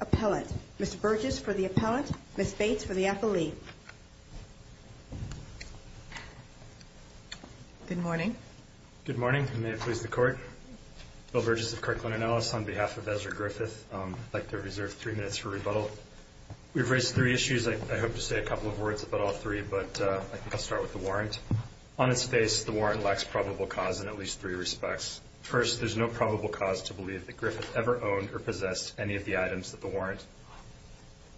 Appellant. Ms. Burgess for the Appellant. Ms. Bates for the Appellee. Good morning. Good morning. May it please the Court. Bill Burgess of Kirkland & Ellis on behalf of Ezra Griffith. I'd like to reserve three minutes for rebuttal. We've raised three issues. I hope to say a couple of words about all three, but I think I'll start with the warrant. On its face, the warrant lacks probable cause in at least three respects. First, there's no probable cause to believe that Griffith ever owned or possessed any of the items that the warrant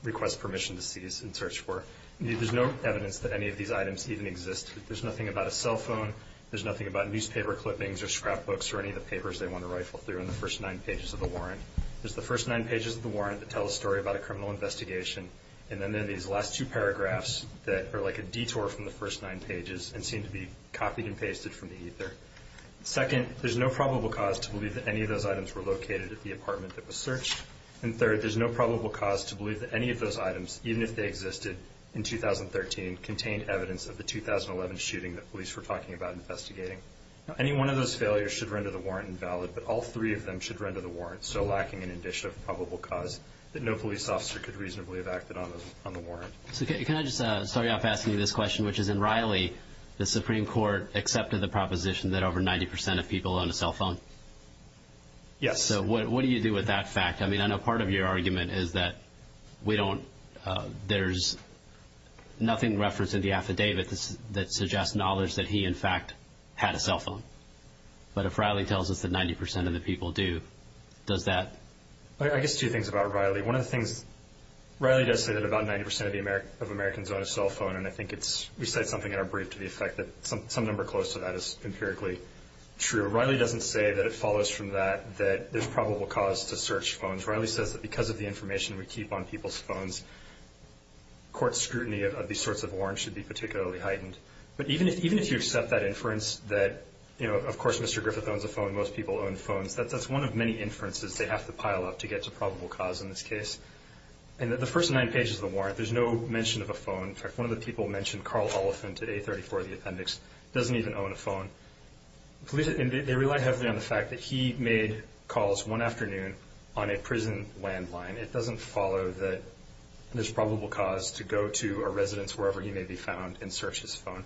requests permission to seize and search for. There's no evidence that any of these items even exist. There's nothing about a cell phone. There's nothing about newspaper clippings or scrapbooks or any of the papers they want to rifle through in the first nine pages of the warrant. There's the first nine pages of the warrant that tell a story about a criminal investigation, and then there are these last two paragraphs that are like a detour from the first nine pages and seem to be copied and pasted from the ether. Second, there's no probable cause to believe that any of those items were located at the apartment that was searched. And third, there's no probable cause to believe that any of those items, even if they existed in 2013, contained evidence of the 2011 shooting that police were talking about investigating. Any one of those failures should render the warrant invalid, but all three of them should render the warrant still lacking an indication of probable cause that no police officer could reasonably have acted on the warrant. So can I just start you off asking you this question, which is in Riley, the Supreme Court accepted the proposition that over 90% of people own a cell phone? Yes. So what do you do with that fact? I mean, I know part of your argument is that we don't – that there's nothing referenced in the affidavit that suggests knowledge that he, in fact, had a cell phone. But if Riley tells us that 90% of the people do, does that – I guess two things about Riley. One of the things – Riley does say that about 90% of Americans own a cell phone, and I think it's – we said something in our brief to the effect that some number close to that is empirically true. Riley doesn't say that it follows from that that there's probable cause to search phones. Riley says that because of the information we keep on people's phones, court scrutiny of these sorts of warrants should be particularly heightened. But even if you accept that inference that, you know, of course Mr. Griffith owns a phone, most people own phones, that's one of many inferences they have to pile up to get to probable cause in this case. And the first nine pages of the warrant, there's no mention of a phone. In fact, one of the people mentioned Carl Oliphant at A34, the appendix, doesn't even own a phone. They rely heavily on the fact that he made calls one afternoon on a prison landline. It doesn't follow that there's probable cause to go to a residence wherever he may be found and search his phone.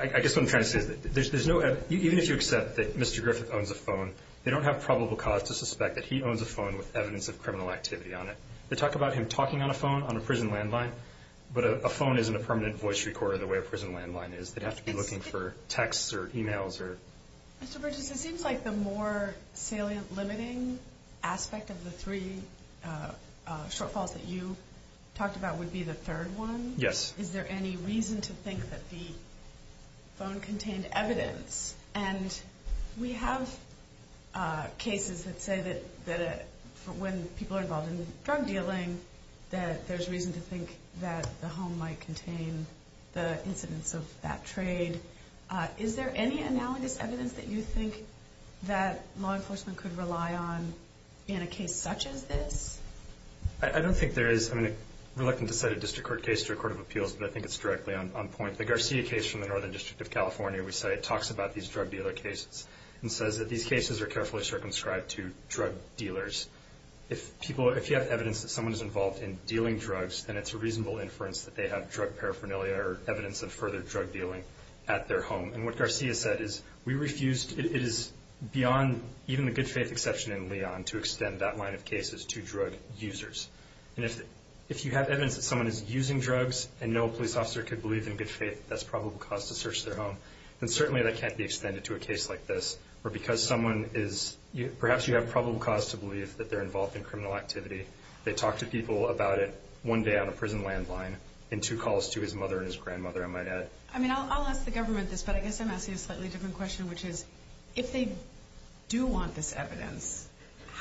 I guess what I'm trying to say is that there's no – even if you accept that Mr. Griffith owns a phone, they don't have probable cause to suspect that he owns a phone with evidence of criminal activity on it. They talk about him talking on a phone on a prison landline, but a phone isn't a permanent voice recorder the way a prison landline is. They'd have to be looking for texts or emails or – Mr. Bridges, it seems like the more salient limiting aspect of the three shortfalls that you talked about would be the third one. Yes. Is there any reason to think that the phone contained evidence? And we have cases that say that when people are involved in drug dealing, that there's reason to think that the home might contain the incidents of that trade. Is there any analogous evidence that you think that law enforcement could rely on in a case such as this? I don't think there is. I mean, I'm reluctant to cite a district court case to a court of appeals, but I think it's directly on point. The Garcia case from the Northern District of California, we say it talks about these drug dealer cases and says that these cases are carefully circumscribed to drug dealers. If you have evidence that someone is involved in dealing drugs, then it's a reasonable inference that they have drug paraphernalia or evidence of further drug dealing at their home. And what Garcia said is we refused – it is beyond even the good faith exception in Leon to extend that line of cases to drug users. And if you have evidence that someone is using drugs and no police officer could believe in good faith that that's probable cause to search their home, then certainly that can't be extended to a case like this. Or because someone is – perhaps you have probable cause to believe that they're involved in criminal activity. They talk to people about it one day on a prison landline and two calls to his mother and his grandmother, I might add. I mean, I'll ask the government this, but I guess I'm asking a slightly different question, which is if they do want this evidence,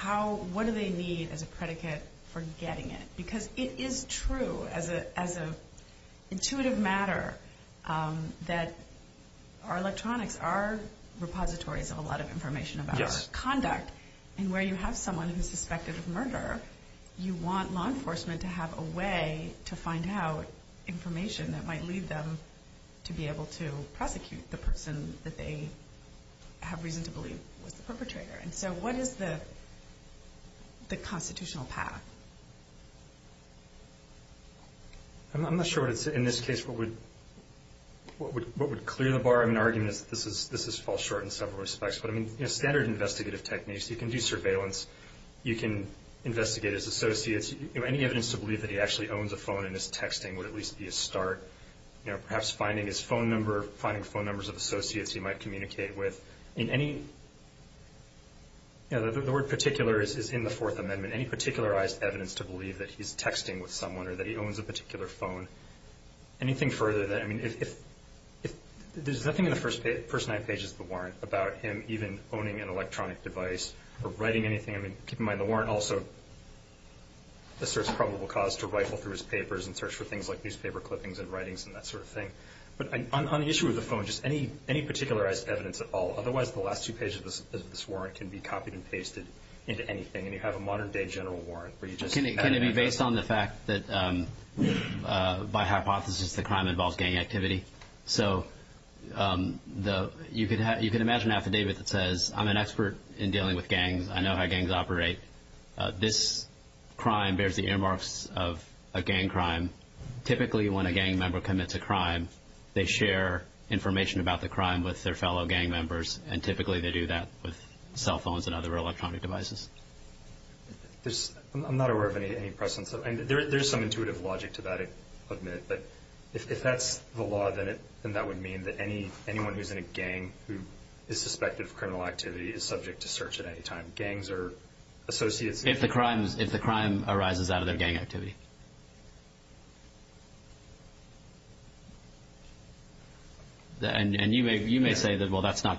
what do they need as a predicate for getting it? Because it is true, as an intuitive matter, that our electronics are repositories of a lot of information about our conduct. And where you have someone who's suspected of murder, you want law enforcement to have a way to find out information that might lead them to be able to prosecute the person that they have reason to believe was the perpetrator. And so what is the constitutional path? I'm not sure in this case what would clear the bar. I mean, the argument is that this falls short in several respects. But standard investigative techniques, you can do surveillance. You can investigate his associates. Any evidence to believe that he actually owns a phone in his texting would at least be a start. Perhaps finding his phone number, finding phone numbers of associates he might communicate with. The word particular is in the Fourth Amendment. Any particularized evidence to believe that he's texting with someone or that he owns a particular phone, anything further than that. I mean, there's nothing in the first nine pages of the warrant about him even owning an electronic device or writing anything. I mean, keep in mind the warrant also asserts probable cause to rifle through his papers and search for things like newspaper clippings and writings and that sort of thing. But on the issue of the phone, just any particularized evidence at all. Otherwise, the last two pages of this warrant can be copied and pasted into anything. And you have a modern-day general warrant where you just add anything. Can it be based on the fact that by hypothesis the crime involves gang activity? So you can imagine an affidavit that says, I'm an expert in dealing with gangs. I know how gangs operate. This crime bears the earmarks of a gang crime. Typically, when a gang member commits a crime, they share information about the crime with their fellow gang members, and typically they do that with cell phones and other electronic devices. I'm not aware of any precedents. There is some intuitive logic to that, I'll admit. But if that's the law, then that would mean that anyone who's in a gang who is suspected of criminal activity is subject to search at any time. Gangs are associates. If the crime arises out of their gang activity. And you may say that, well, that's not,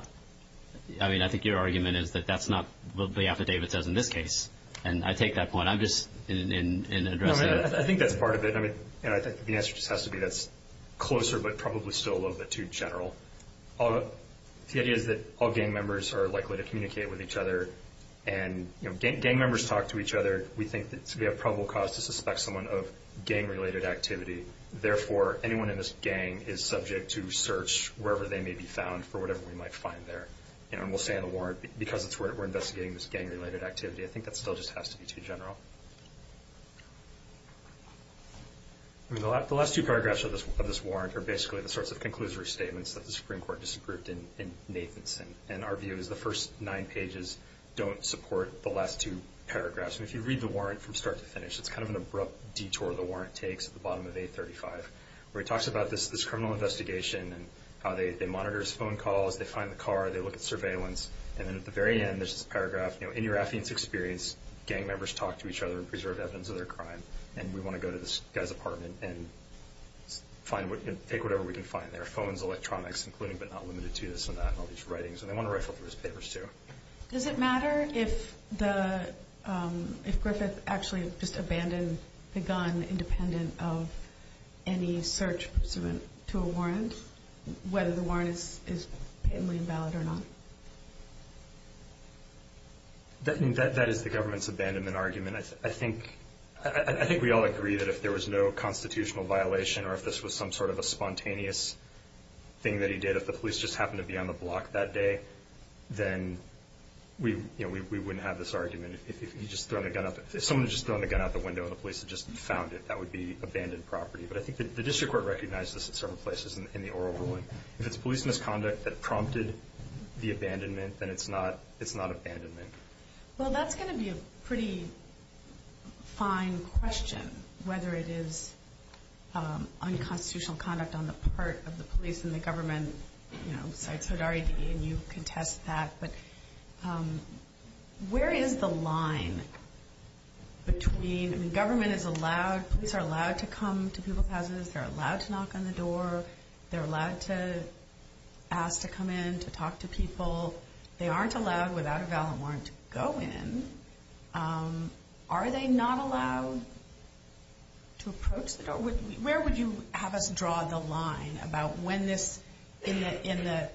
I mean, I think your argument is that that's not what the affidavit says in this case. And I take that point. I'm just in addressing it. I think that's part of it. The answer just has to be that's closer but probably still a little bit too general. The idea is that all gang members are likely to communicate with each other. Gang members talk to each other. We think that we have probable cause to suspect someone of gang-related activity. Therefore, anyone in this gang is subject to search wherever they may be found for whatever we might find there. And we'll say in the warrant, because it's where we're investigating this gang-related activity, I think that still just has to be too general. The last two paragraphs of this warrant are basically the sorts of conclusory statements that the Supreme Court disagreed in Nathanson. And our view is the first nine pages don't support the last two paragraphs. And if you read the warrant from start to finish, it's kind of an abrupt detour the warrant takes at the bottom of 835, where he talks about this criminal investigation and how they monitor his phone calls, they find the car, they look at surveillance. And then at the very end, there's this paragraph, you know, in your affidavit's experience, gang members talk to each other and preserve evidence of their crime. And we want to go to this guy's apartment and take whatever we can find there, phones, electronics, including but not limited to this and that and all these writings. And they want to rifle through his papers too. Does it matter if Griffith actually just abandoned the gun independent of any search pursuant to a warrant, whether the warrant is patently invalid or not? That is the government's abandonment argument. I think we all agree that if there was no constitutional violation or if this was some sort of a spontaneous thing that he did, if the police just happened to be on the block that day, then we wouldn't have this argument. If someone had just thrown the gun out the window and the police had just found it, that would be abandoned property. But I think the district court recognized this at several places in the oral ruling. If it's police misconduct that prompted the abandonment, then it's not abandonment. Well, that's going to be a pretty fine question, whether it is unconstitutional conduct on the part of the police and the government, you know, besides Hodari D., and you contest that. But where is the line between, I mean, government is allowed, police are allowed to come to people's houses, they're allowed to knock on the door, they're allowed to ask to come in to talk to people. They aren't allowed without a valid warrant to go in. Are they not allowed to approach the door? Where would you have us draw the line about when this, in the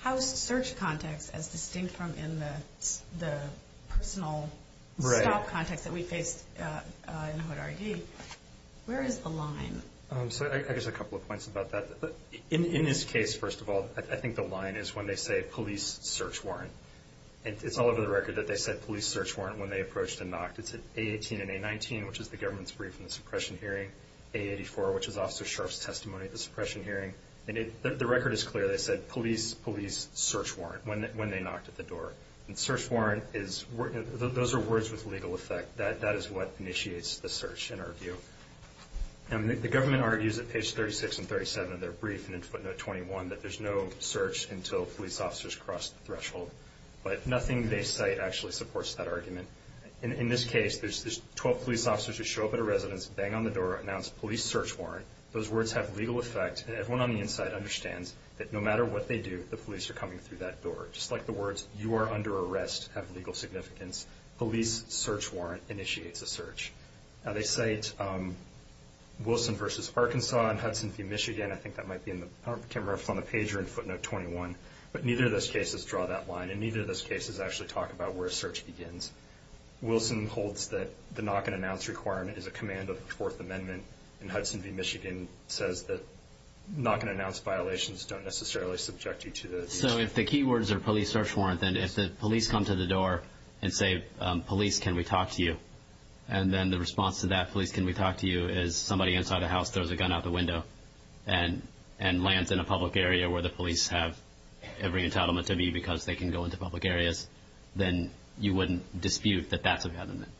house search context as distinct from in the personal stop context that we faced in Hodari D., where is the line? I guess a couple of points about that. In this case, first of all, I think the line is when they say police search warrant. And it's all over the record that they said police search warrant when they approached and knocked. It's at A18 and A19, which is the government's brief in the suppression hearing, A84, which is Officer Sharf's testimony at the suppression hearing. And the record is clear. They said police, police search warrant when they knocked at the door. And search warrant is, those are words with legal effect. That is what initiates the search in our view. The government argues at page 36 and 37 of their brief and in footnote 21 that there's no search until police officers cross the threshold. But nothing they cite actually supports that argument. In this case, there's 12 police officers who show up at a residence, bang on the door, announce police search warrant. Those words have legal effect, and everyone on the inside understands that no matter what they do, the police are coming through that door. Just like the words you are under arrest have legal significance, police search warrant initiates a search. Now, they cite Wilson v. Arkansas and Hudson v. Michigan. Again, I think that might be in the camera on the page or in footnote 21. But neither of those cases draw that line, and neither of those cases actually talk about where a search begins. Wilson holds that the knock-and-announce requirement is a command of the Fourth Amendment, and Hudson v. Michigan says that knock-and-announce violations don't necessarily subject you to the search. So if the key words are police search warrant, then if the police come to the door and say, police, can we talk to you? And then the response to that, police, can we talk to you, is somebody inside the house throws a gun out the window and lands in a public area where the police have every entitlement to be because they can go into public areas, then you wouldn't dispute that that's a government.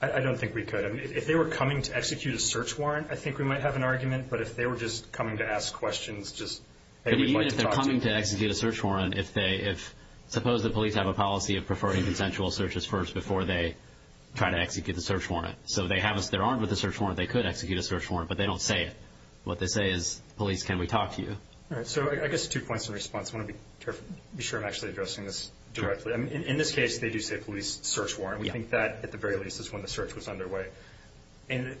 I don't think we could. If they were coming to execute a search warrant, I think we might have an argument. But if they were just coming to ask questions, just, hey, we'd like to talk to you. Even if they're coming to execute a search warrant, suppose the police have a policy of preferring consensual searches first before they try to execute the search warrant. So if they're armed with a search warrant, they could execute a search warrant, but they don't say it. What they say is, police, can we talk to you? All right, so I guess two points in response. I want to be sure I'm actually addressing this directly. In this case, they do say police search warrant. We think that, at the very least, is when the search was underway. And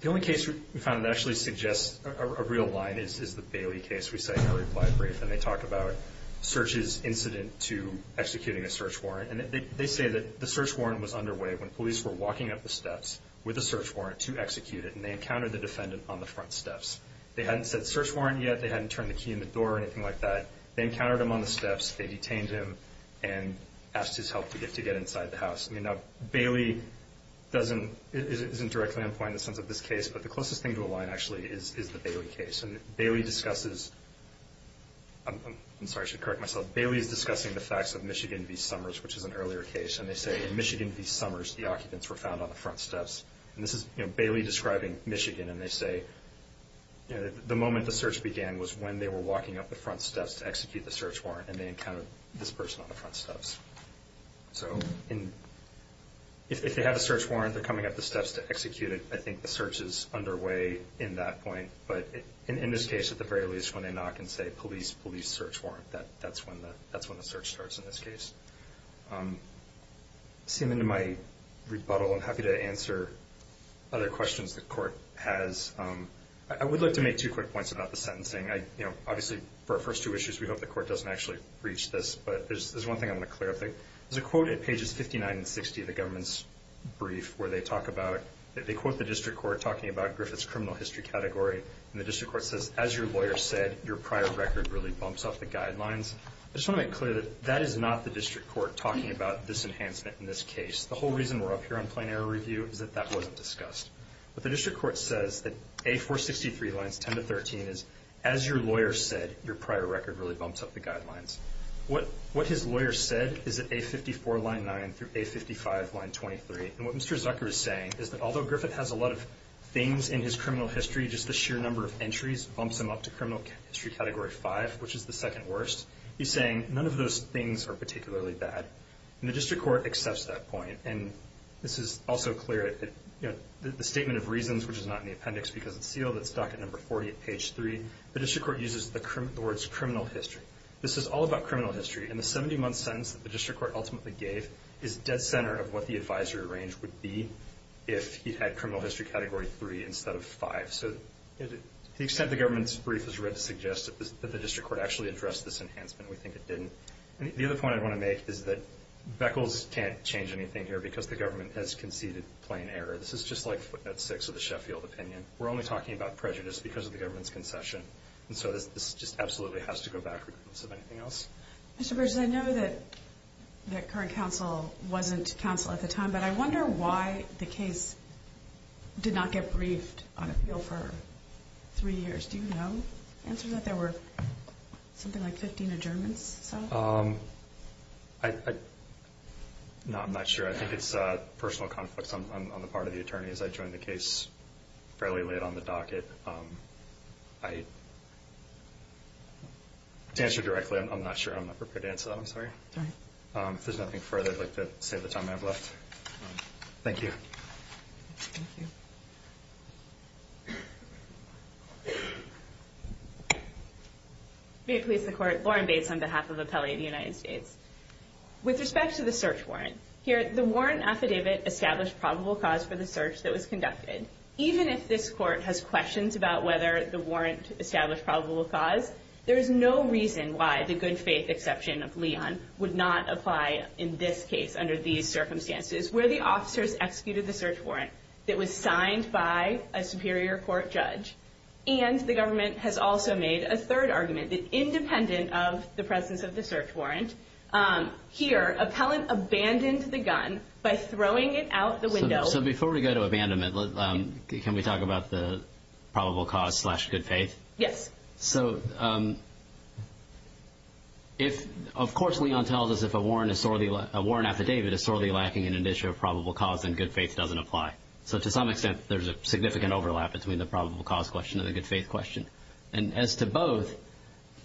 the only case we found that actually suggests a real line is the Bailey case. We say no reply brief, and they talk about searches incident to executing a search warrant. And they say that the search warrant was underway when police were walking up the steps with a search warrant to execute it, and they encountered the defendant on the front steps. They hadn't said search warrant yet. They hadn't turned the key in the door or anything like that. They encountered him on the steps. They detained him and asked his help to get inside the house. Now, Bailey doesn't – isn't directly implying the sense of this case, but the closest thing to a line, actually, is the Bailey case. And Bailey discusses – I'm sorry, I should correct myself. Bailey is discussing the facts of Michigan v. Summers, which is an earlier case, and they say in Michigan v. Summers, the occupants were found on the front steps. And this is Bailey describing Michigan, and they say the moment the search began was when they were walking up the front steps to execute the search warrant, and they encountered this person on the front steps. So if they have a search warrant, they're coming up the steps to execute it. I think the search is underway in that point. But in this case, at the very least, when they knock and say, police, police, search warrant, that's when the search starts in this case. Seeming to my rebuttal, I'm happy to answer other questions the court has. I would like to make two quick points about the sentencing. Obviously, for our first two issues, we hope the court doesn't actually breach this, but there's one thing I want to clarify. There's a quote at pages 59 and 60 of the government's brief where they talk about – and the district court says, as your lawyer said, your prior record really bumps up the guidelines. I just want to make clear that that is not the district court talking about this enhancement in this case. The whole reason we're up here on plain error review is that that wasn't discussed. But the district court says that A463 lines 10 to 13 is, as your lawyer said, your prior record really bumps up the guidelines. What his lawyer said is at A54 line 9 through A55 line 23. And what Mr. Zucker is saying is that although Griffith has a lot of things in his criminal history, just the sheer number of entries bumps him up to criminal history category 5, which is the second worst. He's saying none of those things are particularly bad. And the district court accepts that point. And this is also clear, the statement of reasons, which is not in the appendix because it's sealed. It's docket number 40 at page 3. The district court uses the words criminal history. This is all about criminal history, and the 70-month sentence that the district court ultimately gave is dead center of what the advisory range would be if he had criminal history category 3 instead of 5. So to the extent the government's brief was read to suggest that the district court actually addressed this enhancement, we think it didn't. The other point I want to make is that Beckles can't change anything here because the government has conceded plain error. This is just like footnote 6 of the Sheffield opinion. We're only talking about prejudice because of the government's concession. And so this just absolutely has to go backwards if anything else. Mr. Burgess, I know that current counsel wasn't counsel at the time, but I wonder why the case did not get briefed on appeal for three years. Do you know? The answer is that there were something like 15 adjournments. No, I'm not sure. I think it's personal conflicts on the part of the attorneys. I joined the case fairly late on the docket. To answer directly, I'm not sure. I'm not prepared to answer that. I'm sorry. If there's nothing further, I'd like to save the time I have left. Thank you. Thank you. May it please the Court. Lauren Bates on behalf of Appellee of the United States. With respect to the search warrant, here the warrant affidavit established probable cause for the search that was conducted. Even if this court has questions about whether the warrant established probable cause, there is no reason why the good faith exception of Leon would not apply in this case under these circumstances where the officers executed the search warrant that was signed by a superior court judge. And the government has also made a third argument that independent of the presence of the search warrant, here appellant abandoned the gun by throwing it out the window. So before we go to abandonment, can we talk about the probable cause slash good faith? Yes. So of course Leon tells us if a warrant affidavit is sorely lacking in an issue of probable cause, then good faith doesn't apply. So to some extent, there's a significant overlap between the probable cause question and the good faith question. And as to both,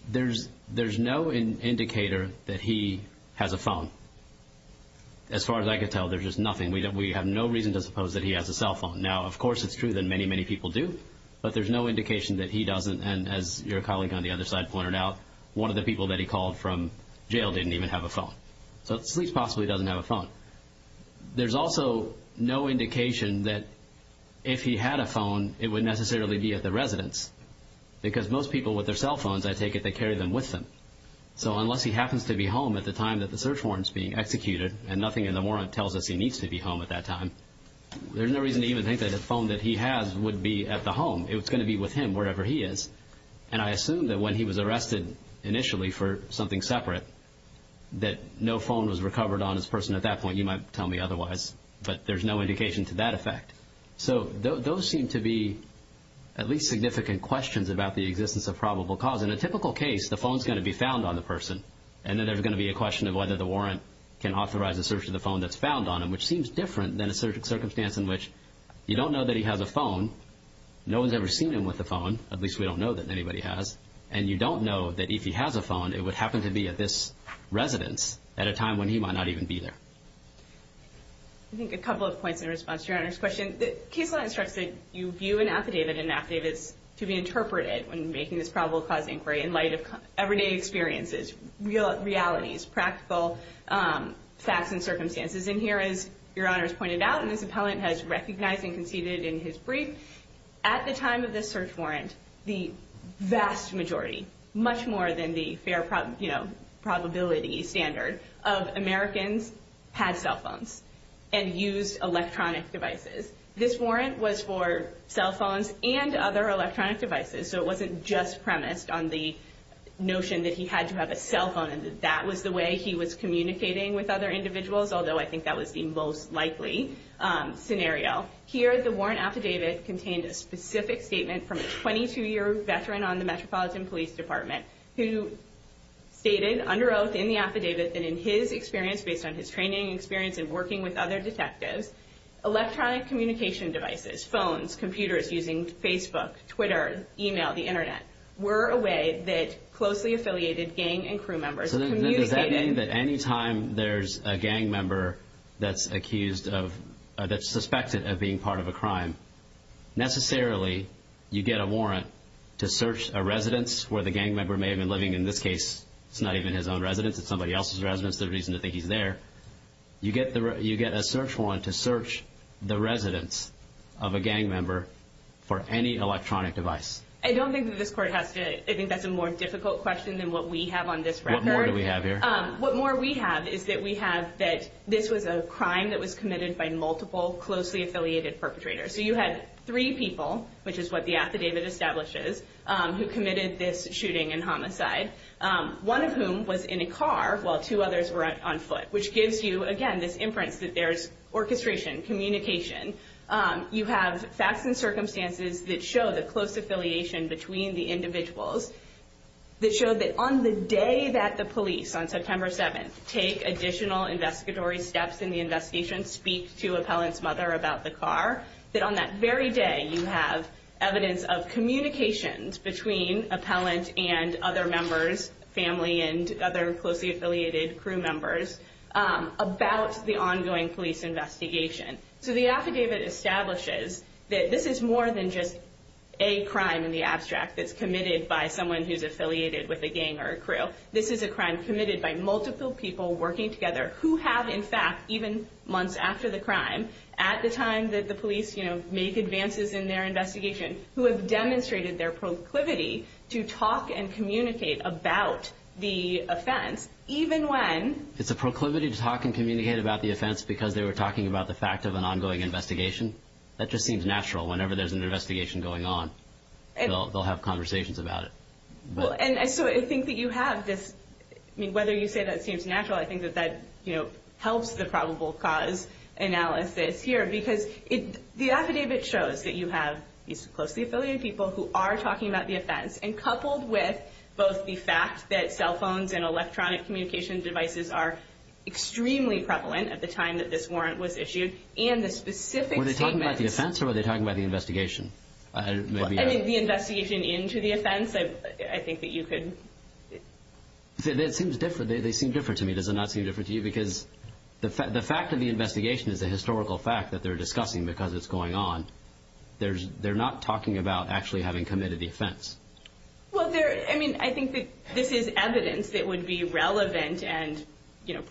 there's no indicator that he has a phone. As far as I could tell, there's just nothing. We have no reason to suppose that he has a cell phone. Now, of course, it's true that many, many people do, but there's no indication that he doesn't. And as your colleague on the other side pointed out, one of the people that he called from jail didn't even have a phone. So it's at least possible he doesn't have a phone. There's also no indication that if he had a phone, it would necessarily be at the residence because most people with their cell phones, I take it, they carry them with them. So unless he happens to be home at the time that the search warrant is being executed and nothing in the warrant tells us he needs to be home at that time, there's no reason to even think that the phone that he has would be at the home. It's going to be with him wherever he is. And I assume that when he was arrested initially for something separate, that no phone was recovered on his person at that point. You might tell me otherwise, but there's no indication to that effect. So those seem to be at least significant questions about the existence of probable cause. In a typical case, the phone is going to be found on the person, and then there's going to be a question of whether the warrant can authorize a search of the phone that's found on him, which seems different than a circumstance in which you don't know that he has a phone. No one's ever seen him with a phone. At least we don't know that anybody has. And you don't know that if he has a phone, it would happen to be at this residence at a time when he might not even be there. I think a couple of points in response to Your Honor's question. The case law instructs that you view an affidavit and an affidavit is to be interpreted when making this probable cause inquiry in light of everyday experiences, realities, practical facts and circumstances. And here, as Your Honor has pointed out, and this appellant has recognized and conceded in his brief, at the time of this search warrant, the vast majority, much more than the fair probability standard, of Americans had cell phones and used electronic devices. This warrant was for cell phones and other electronic devices, so it wasn't just premised on the notion that he had to have a cell phone and that that was the way he was communicating with other individuals, although I think that was the most likely scenario. Here, the warrant affidavit contained a specific statement from a 22-year veteran on the Metropolitan Police Department who stated under oath in the affidavit that in his experience, based on his training and experience in working with other detectives, electronic communication devices, phones, computers using Facebook, Twitter, email, the Internet, were a way that closely affiliated gang and crew members communicated. So does that mean that any time there's a gang member that's accused of, that's suspected of being part of a crime, necessarily you get a warrant to search a residence where the gang member may have been living. In this case, it's not even his own residence. It's somebody else's residence. There's no reason to think he's there. You get a search warrant to search the residence of a gang member for any electronic device. I don't think that this court has to, I think that's a more difficult question than what we have on this record. What more do we have here? What more we have is that we have that this was a crime that was committed by multiple closely affiliated perpetrators. So you had three people, which is what the affidavit establishes, who committed this shooting and homicide, one of whom was in a car while two others were on foot, which gives you, again, this inference that there's orchestration, communication. You have facts and circumstances that show the close affiliation between the individuals that show that on the day that the police, on September 7th, take additional investigatory steps in the investigation, speak to Appellant's mother about the car, that on that very day, you have evidence of communications between Appellant and other members, family and other closely affiliated crew members, about the ongoing police investigation. So the affidavit establishes that this is more than just a crime in the abstract that's committed by someone who's affiliated with a gang or a crew. This is a crime committed by multiple people working together who have, in fact, even months after the crime, at the time that the police make advances in their investigation, who have demonstrated their proclivity to talk and communicate about the offense, even when... It's a proclivity to talk and communicate about the offense because they were talking about the fact of an ongoing investigation? That just seems natural. Whenever there's an investigation going on, they'll have conversations about it. And so I think that you have this... I mean, whether you say that seems natural, I think that that helps the probable cause analysis here because the affidavit shows that you have these closely affiliated people who are talking about the offense, and coupled with both the fact that cell phones and electronic communication devices are extremely prevalent at the time that this warrant was issued, and the specific statements... Were they talking about the offense or were they talking about the investigation? And the investigation into the offense, I think that you could... It seems different. They seem different to me. Does it not seem different to you? Because the fact of the investigation is a historical fact that they're discussing because it's going on. They're not talking about actually having committed the offense. Well, I mean, I think that this is evidence that would be relevant and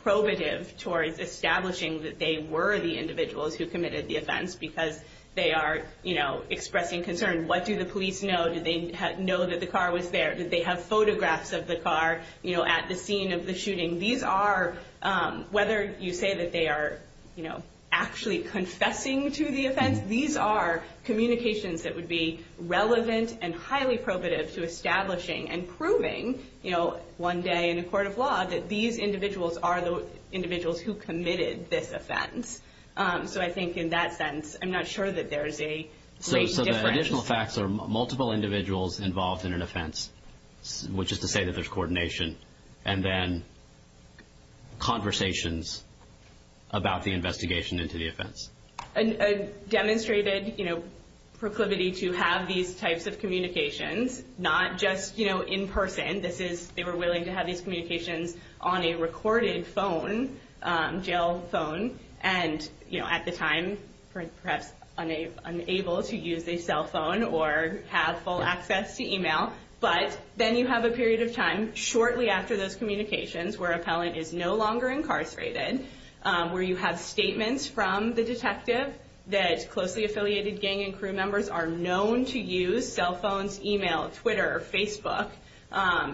probative towards establishing that they were the individuals who committed the offense because they are expressing concern. What do the police know? Did they know that the car was there? Did they have photographs of the car at the scene of the shooting? These are, whether you say that they are actually confessing to the offense, these are communications that would be relevant and highly probative to establishing and proving one day in a court of law that these individuals are the individuals who committed this offense. So I think in that sense, I'm not sure that there's a great difference. Additional facts are multiple individuals involved in an offense, which is to say that there's coordination, and then conversations about the investigation into the offense. A demonstrated proclivity to have these types of communications, not just in person. They were willing to have these communications on a recorded phone, jail phone, and at the time perhaps unable to use a cell phone or have full access to e-mail. But then you have a period of time shortly after those communications where appellant is no longer incarcerated, where you have statements from the detective that closely affiliated gang and crew members are known to use cell phones, e-mail, Twitter, Facebook,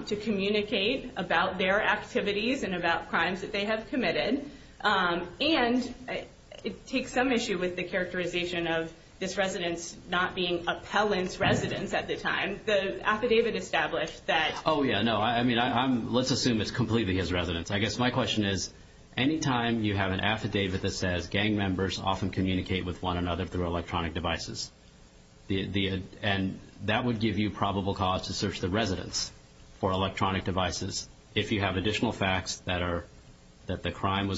to communicate about their activities and about crimes that they have committed. And it takes some issue with the characterization of this residence not being appellant's residence at the time. The affidavit established that. Oh, yeah, no. I mean, let's assume it's completely his residence. I guess my question is, any time you have an affidavit that says, gang members often communicate with one another through electronic devices, and that would give you probable cause to search the residence for electronic devices. If you have additional facts that the crime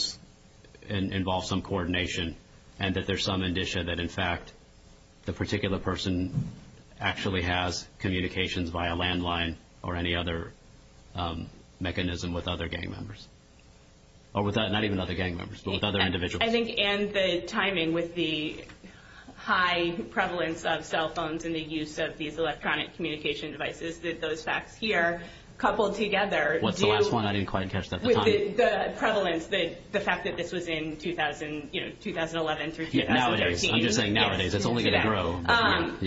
involved some coordination and that there's some indicia that, in fact, the particular person actually has communications via landline or any other mechanism with other gang members. Not even other gang members, but with other individuals. I think, and the timing with the high prevalence of cell phones and the use of these electronic communication devices, those facts here, coupled together. What's the last one? I didn't quite catch that at the time. The prevalence, the fact that this was in 2011 through 2013. Nowadays. I'm just saying nowadays. It's only going to grow.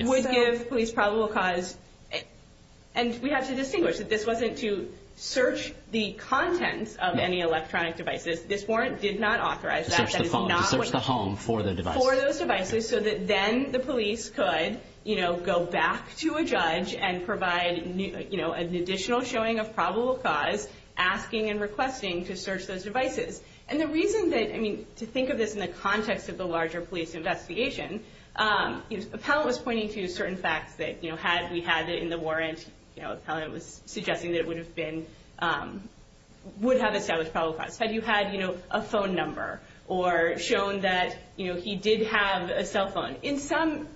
Would give police probable cause. And we have to distinguish that this wasn't to search the contents of any electronic devices. This warrant did not authorize that. To search the phone, to search the home for the device. For those devices, so that then the police could go back to a judge and provide an additional showing of probable cause, asking and requesting to search those devices. And the reason that, to think of this in the context of the larger police investigation, Appellant was pointing to certain facts that had we had it in the warrant, Appellant was suggesting that it would have been, would have established probable cause. Had you had a phone number or shown that he did have a cell phone. In some,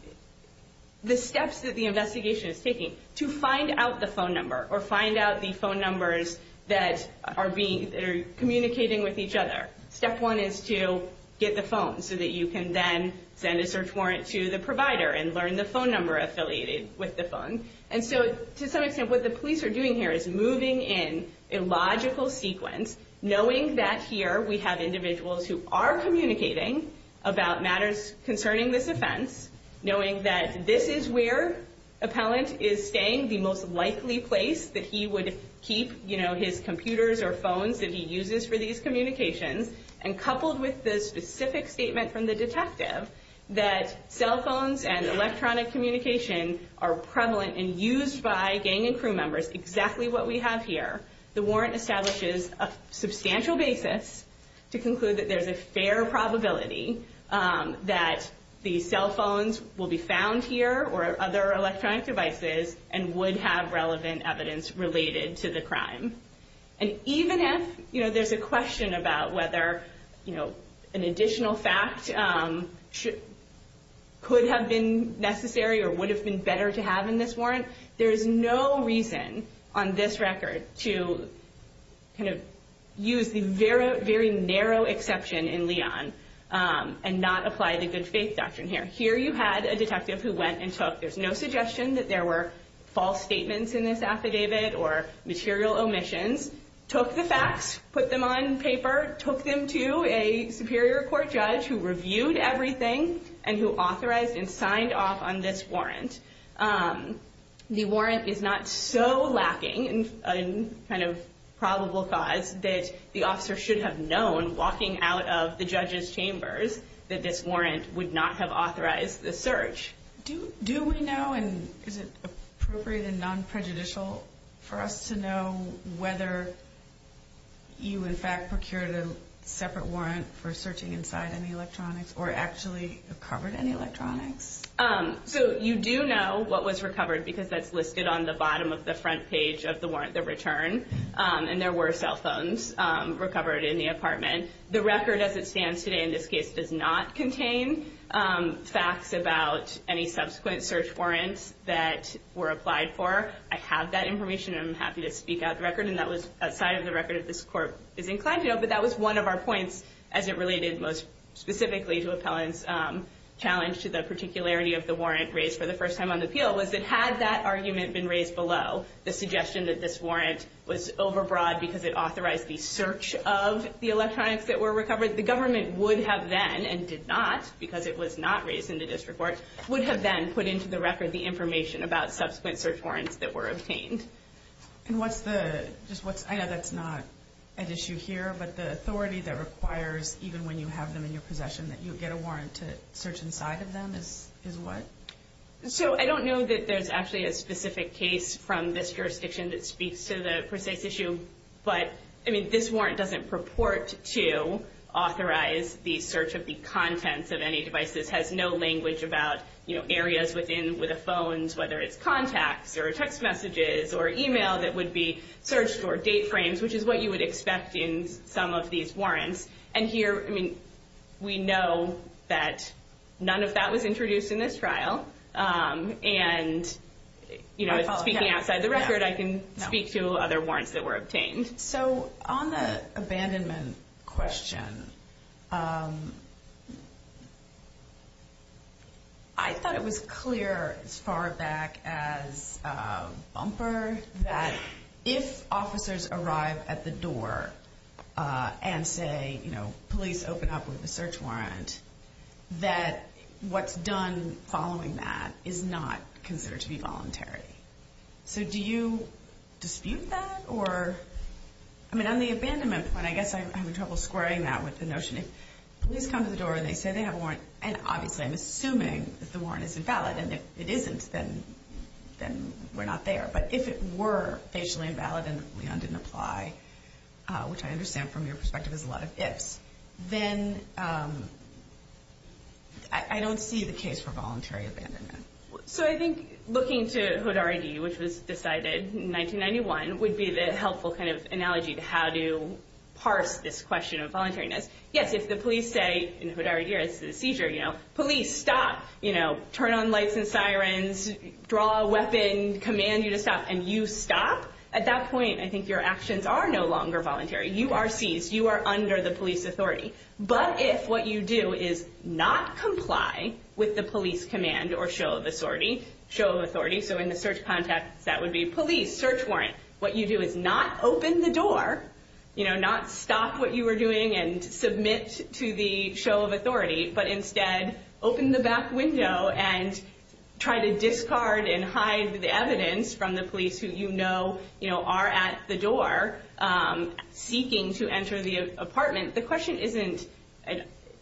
the steps that the investigation is taking to find out the phone number or find out the phone numbers that are being, that are communicating with each other. Step one is to get the phone so that you can then send a search warrant to the provider and learn the phone number affiliated with the phone. And so, to some extent, what the police are doing here is moving in a logical sequence, knowing that here we have individuals who are communicating about matters concerning this offense. Knowing that this is where Appellant is staying, the most likely place that he would keep, you know, his computers or phones that he uses for these communications. And coupled with the specific statement from the detective, that cell phones and electronic communication are prevalent and used by gang and crew members. Exactly what we have here. The warrant establishes a substantial basis to conclude that there's a fair probability that the cell phones will be found here or other electronic devices and would have relevant evidence related to the crime. And even if, you know, there's a question about whether, you know, an additional fact could have been necessary or would have been better to have in this warrant. There's no reason on this record to kind of use the very narrow exception in Leon and not apply the good faith doctrine here. Here you had a detective who went and took. There's no suggestion that there were false statements in this affidavit or material omissions. Took the facts, put them on paper, took them to a superior court judge who reviewed everything and who authorized and signed off on this warrant. The warrant is not so lacking in kind of probable cause that the officer should have known walking out of the judge's chambers that this warrant would not have authorized the search. Do we know and is it appropriate and non-prejudicial for us to know whether you in fact procured a separate warrant for searching inside any electronics or actually recovered any electronics? So you do know what was recovered because that's listed on the bottom of the front page of the warrant, the return, and there were cell phones recovered in the apartment. The record as it stands today in this case does not contain facts about any subsequent search warrants that were applied for. I have that information and I'm happy to speak out the record, and that was outside of the record that this court is inclined to know, but that was one of our points as it related most specifically to Appellant's challenge to the particularity of the warrant raised for the first time on the appeal was that had that argument been raised below, the suggestion that this warrant was overbroad because it authorized the search of the electronics that were recovered, the government would have then, and did not because it was not raised in the district court, would have then put into the record the information about subsequent search warrants that were obtained. And what's the, I know that's not at issue here, but the authority that requires, even when you have them in your possession, that you get a warrant to search inside of them is what? So I don't know that there's actually a specific case from this jurisdiction that speaks to the precise issue, but, I mean, this warrant doesn't purport to authorize the search of the contents of any devices, has no language about, you know, areas within the phones, whether it's contacts or text messages or email that would be searched or date frames, which is what you would expect in some of these warrants. And here, I mean, we know that none of that was introduced in this trial, and, you know, speaking outside the record, I can speak to other warrants that were obtained. So on the abandonment question, I thought it was clear as far back as Bumper that if officers arrive at the door and say, you know, police, open up with a search warrant, that what's done following that is not considered to be voluntary. So do you dispute that, or, I mean, on the abandonment point, I guess I'm having trouble squaring that with the notion if police come to the door and they say they have a warrant, and obviously I'm assuming that the warrant is invalid, and if it isn't, then we're not there. But if it were facially invalid and Leon didn't apply, which I understand from your perspective is a lot of ifs, then I don't see the case for voluntary abandonment. So I think looking to HODAR ID, which was decided in 1991, would be the helpful kind of analogy to how to parse this question of voluntariness. Yes, if the police say, in HODAR ID, it's a seizure, you know, police, stop, you know, turn on lights and sirens, draw a weapon, command you to stop, and you stop, at that point, I think your actions are no longer voluntary. You are seized. You are under the police authority. But if what you do is not comply with the police command or show of authority, so in the search context, that would be police, search warrant, what you do is not open the door, you know, not stop what you are doing and submit to the show of authority, but instead open the back window and try to discard and hide the evidence from the police who you know, you know, are at the door seeking to enter the apartment. The question isn't,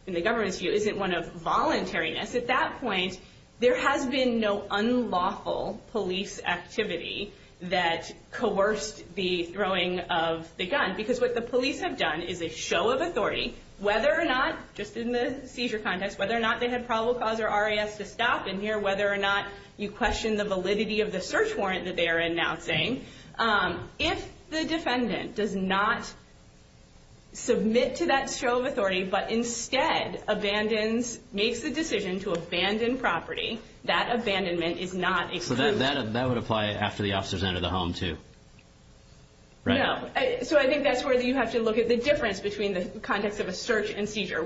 in the government's view, isn't one of voluntariness. At that point, there has been no unlawful police activity that coerced the throwing of the gun, because what the police have done is a show of authority, whether or not, just in the seizure context, whether or not they had probable cause or RAS to stop in here, whether or not you question the validity of the search warrant that they are announcing. If the defendant does not submit to that show of authority, but instead abandons, makes the decision to abandon property, that abandonment is not excused. So that would apply after the officers enter the home, too. No. So I think that's where you have to look at the difference between the context of a search and seizure.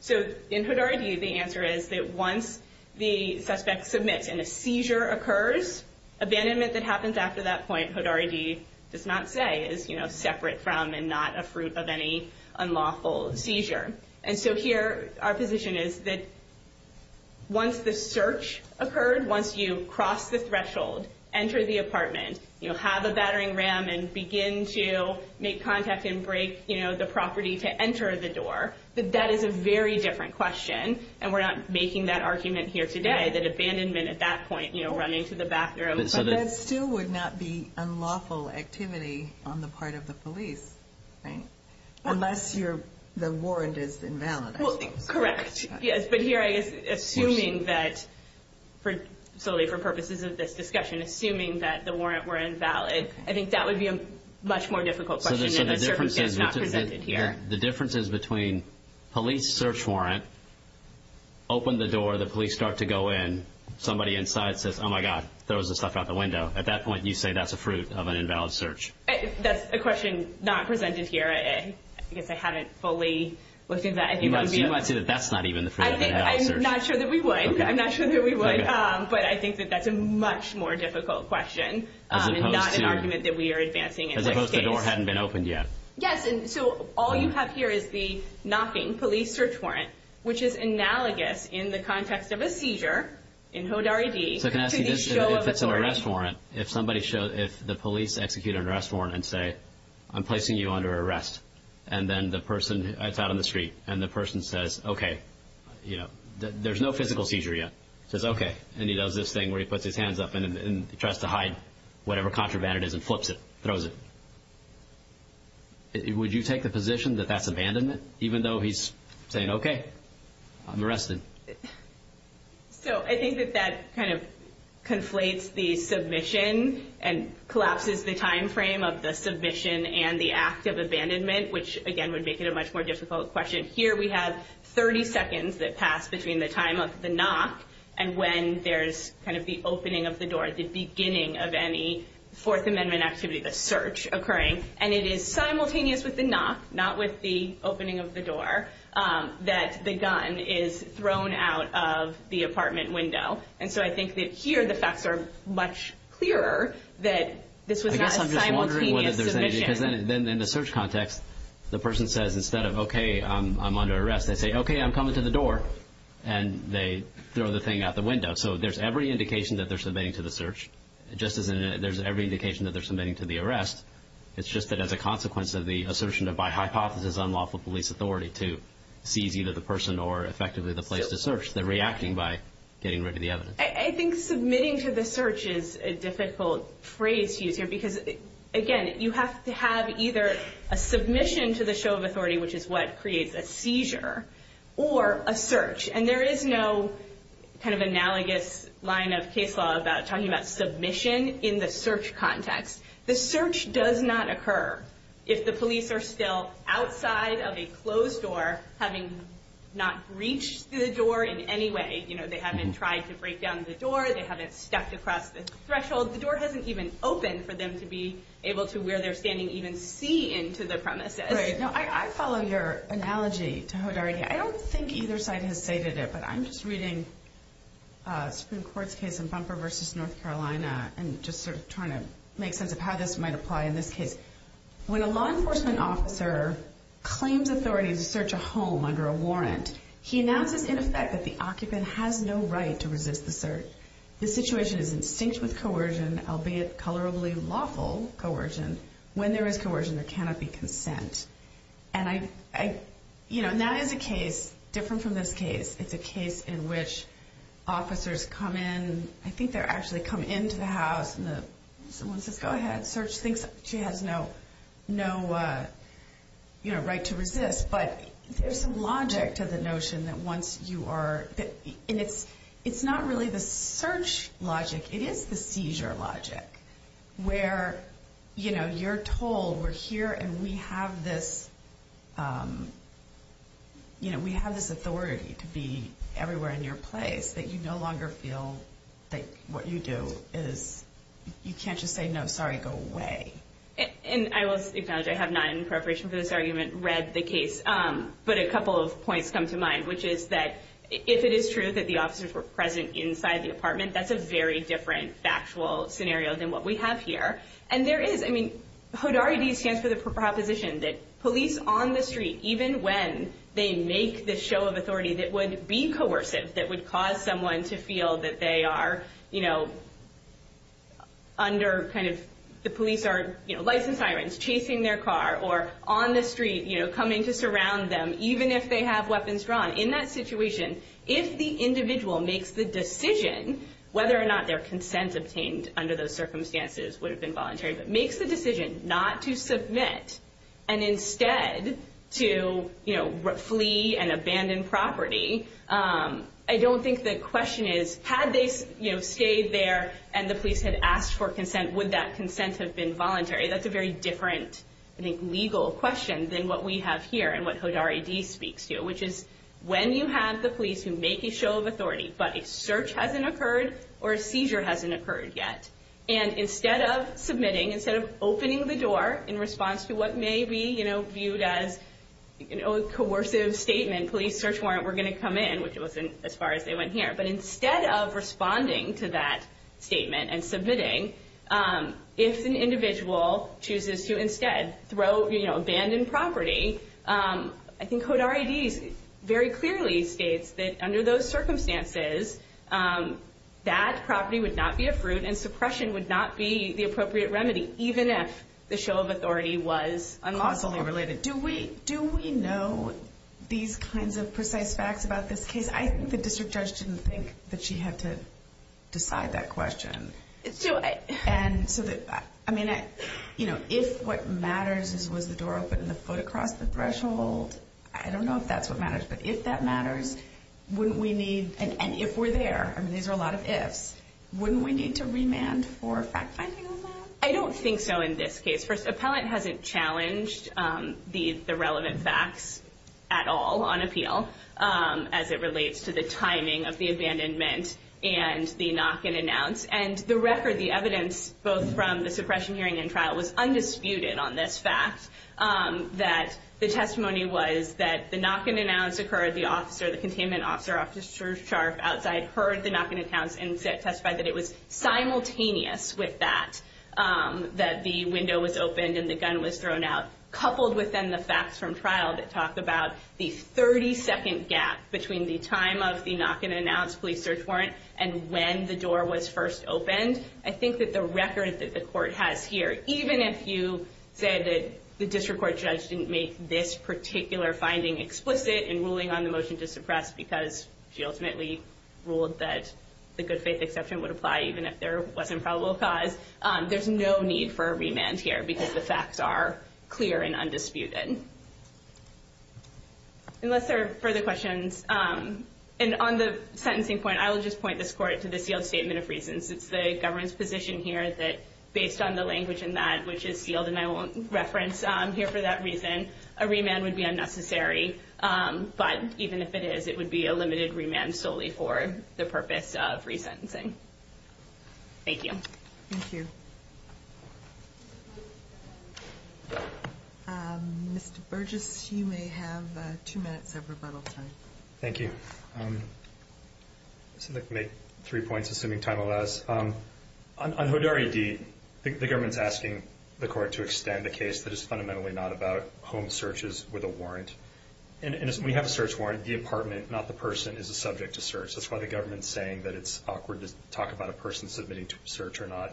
So in Hood R.E.D., the answer is that once the suspect submits and a seizure occurs, abandonment that happens after that point, Hood R.E.D. does not say, is, you know, separate from and not a fruit of any unlawful seizure. And so here, our position is that once the search occurred, once you cross the threshold, enter the apartment, you know, have a battering ram and begin to make contact and break, you know, the property to enter the door, that that is a very different question. And we're not making that argument here today, that abandonment at that point, you know, running to the bathroom. So that still would not be unlawful activity on the part of the police, right, unless the warrant is invalid. Well, correct. Yes, but here, I guess, assuming that solely for purposes of this discussion, assuming that the warrant were invalid, I think that would be a much more difficult question. So the difference is between police search warrant, open the door, the police start to go in, somebody inside says, oh, my God, throws the stuff out the window. At that point, you say that's a fruit of an invalid search. That's a question not presented here. I guess I haven't fully looked into that. You might say that that's not even the fruit of an invalid search. I'm not sure that we would. I'm not sure that we would. But I think that that's a much more difficult question and not an argument that we are advancing in this case. As opposed to the door hadn't been opened yet. Yes, and so all you have here is the knocking police search warrant, which is analogous in the context of a seizure in HODAR ID to the show of authority. So can I ask you this? If it's an arrest warrant, if the police execute an arrest warrant and say, I'm placing you under arrest, and then the person, it's out on the street, and the person says, okay, there's no physical seizure yet, says, okay, and he does this thing where he puts his hands up and tries to hide whatever contraband it is and flips it, throws it. Would you take the position that that's abandonment, even though he's saying, okay, I'm arrested? So I think that that kind of conflates the submission and collapses the time frame of the submission and the act of abandonment, which, again, would make it a much more difficult question. Here we have 30 seconds that pass between the time of the knock and when there's kind of the opening of the door, the beginning of any Fourth Amendment activity, the search occurring. And it is simultaneous with the knock, not with the opening of the door, that the gun is thrown out of the apartment window. And so I think that here the facts are much clearer that this was not a simultaneous submission. I guess I'm just wondering whether there's any, because then in the search context, the person says, instead of, okay, I'm under arrest, they say, okay, I'm coming to the door, and they throw the thing out the window. So there's every indication that they're submitting to the search, just as there's every indication that they're submitting to the arrest. It's just that as a consequence of the assertion of, by hypothesis, unlawful police authority to seize either the person or effectively the place to search, they're reacting by getting rid of the evidence. I think submitting to the search is a difficult phrase to use here because, again, you have to have either a submission to the show of authority, which is what creates a seizure, or a search. And there is no kind of analogous line of case law about talking about submission in the search context. The search does not occur if the police are still outside of a closed door, having not breached the door in any way. You know, they haven't tried to break down the door. They haven't stepped across the threshold. The door hasn't even opened for them to be able to, where they're standing, even see into the premises. Right. Now, I follow your analogy to Hodarity. I don't think either side has stated it, but I'm just reading Supreme Court's case in Bumper v. North Carolina and just sort of trying to make sense of how this might apply in this case. When a law enforcement officer claims authority to search a home under a warrant, he announces in effect that the occupant has no right to resist the search. The situation is in sync with coercion, albeit colorably lawful coercion. When there is coercion, there cannot be consent. And I, you know, and that is a case different from this case. It's a case in which officers come in. I think they actually come into the house and someone says, go ahead, search things. She has no, you know, right to resist. But there's some logic to the notion that once you are, and it's not really the search logic. It is the seizure logic where, you know, you're told we're here and we have this, you know, we have this authority to be everywhere in your place that you no longer feel that what you do is, you can't just say, no, sorry, go away. And I will acknowledge I have not, in preparation for this argument, read the case. But a couple of points come to mind, which is that if it is true that the officers were present inside the apartment, that's a very different factual scenario than what we have here. And there is, I mean, HODARID stands for the proposition that police on the street, even when they make this show of authority that would be coercive, that would cause someone to feel that they are, you know, under kind of the police are, you know, license irons chasing their car or on the street, you know, coming to surround them, even if they have weapons drawn, in that situation, if the individual makes the decision whether or not their consent obtained under those circumstances would have been voluntary, but makes the decision not to submit and instead to, you know, flee and abandon property, I don't think the question is, had they, you know, stayed there and the police had asked for consent, would that consent have been voluntary? That's a very different, I think, legal question than what we have here and what HODARID speaks to, which is when you have the police who make a show of authority, but a search hasn't occurred or a seizure hasn't occurred yet. And instead of submitting, instead of opening the door in response to what may be, you know, viewed as a coercive statement, police search warrant, we're going to come in, which wasn't as far as they went here. But instead of responding to that statement and submitting, if an individual chooses to instead throw, you know, abandoned property, I think HODARID very clearly states that under those circumstances, that property would not be a fruit and suppression would not be the appropriate remedy, even if the show of authority was unlawful. Costally related. Do we know these kinds of precise facts about this case? Because I think the district judge didn't think that she had to decide that question. Do I? And so that, I mean, you know, if what matters is was the door open and the foot across the threshold, I don't know if that's what matters, but if that matters, wouldn't we need, and if we're there, I mean, these are a lot of ifs, wouldn't we need to remand for fact-finding on that? I don't think so in this case. First, appellant hasn't challenged the relevant facts at all on appeal as it relates to the timing of the abandonment and the knock and announce. And the record, the evidence, both from the suppression hearing and trial, was undisputed on this fact, that the testimony was that the knock and announce occurred, the officer, the containment officer, Officer Scharf outside heard the knock and announce and testified that it was simultaneous with that, that the window was opened and the gun was thrown out, coupled with, then, the facts from trial that talk about the 30-second gap between the time of the knock and announce police search warrant and when the door was first opened. I think that the record that the court has here, even if you said that the district court judge didn't make this particular finding explicit in ruling on the motion to suppress because she ultimately ruled that the good faith exception would apply even if there wasn't probable cause, there's no need for a remand here because the facts are clear and undisputed. Unless there are further questions, and on the sentencing point, I will just point this court to the sealed statement of reasons. It's the government's position here that based on the language in that which is sealed, and I won't reference here for that reason, a remand would be unnecessary. But even if it is, it would be a limited remand solely for the purpose of resentencing. Thank you. Thank you. Mr. Burgess, you may have two minutes of rebuttal time. Thank you. I'll make three points, assuming time allows. On Hodari D, the government's asking the court to extend a case that is fundamentally not about home searches with a warrant. And we have a search warrant. The apartment, not the person, is a subject to search. That's why the government's saying that it's awkward to talk about a person submitting to a search or not.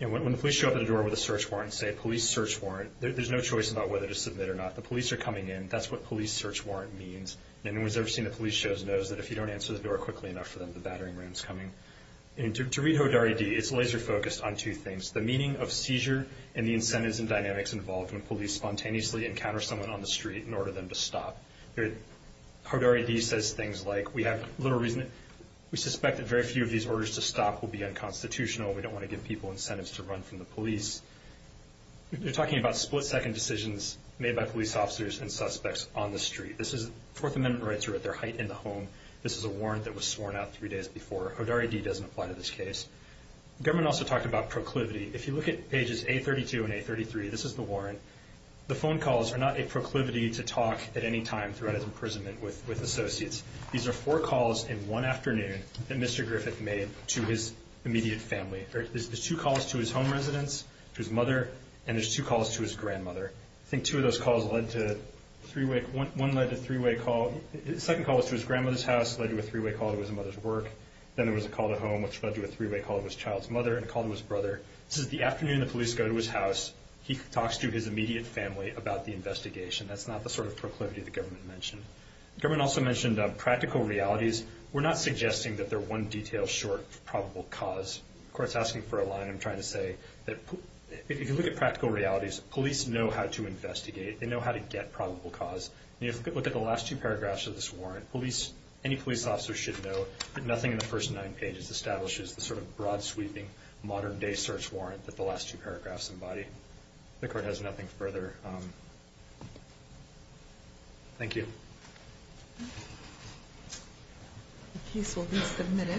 When the police show up at a door with a search warrant and say, police search warrant, there's no choice about whether to submit or not. The police are coming in. That's what police search warrant means. Anyone who's ever seen the police shows knows that if you don't answer the door quickly enough for them, the battering ram is coming. To read Hodari D, it's laser focused on two things, the meaning of seizure and the incentives and dynamics involved when police spontaneously encounter someone on the street and order them to stop. Hodari D says things like, we have little reason, we suspect that very few of these orders to stop will be unconstitutional. We don't want to give people incentives to run from the police. You're talking about split second decisions made by police officers and suspects on the street. This is Fourth Amendment rights are at their height in the home. This is a warrant that was sworn out three days before. Hodari D doesn't apply to this case. The government also talked about proclivity. If you look at pages A32 and A33, this is the warrant. The phone calls are not a proclivity to talk at any time throughout his imprisonment with associates. These are four calls in one afternoon that Mr. Griffith made to his immediate family. There's two calls to his home residence, to his mother, and there's two calls to his grandmother. I think two of those calls led to a three-way – one led to a three-way call. The second call was to his grandmother's house, led to a three-way call to his mother's work. Then there was a call to home, which led to a three-way call to his child's mother and a call to his brother. This is the afternoon the police go to his house. He talks to his immediate family about the investigation. That's not the sort of proclivity the government mentioned. The government also mentioned practical realities. We're not suggesting that they're one detail short of probable cause. The court's asking for a line. I'm trying to say that if you look at practical realities, police know how to investigate. They know how to get probable cause. If you look at the last two paragraphs of this warrant, any police officer should know that nothing in the first nine pages establishes the sort of broad-sweeping, modern-day search warrant that the last two paragraphs embody. The court has nothing further. Thank you. The case will be submitted.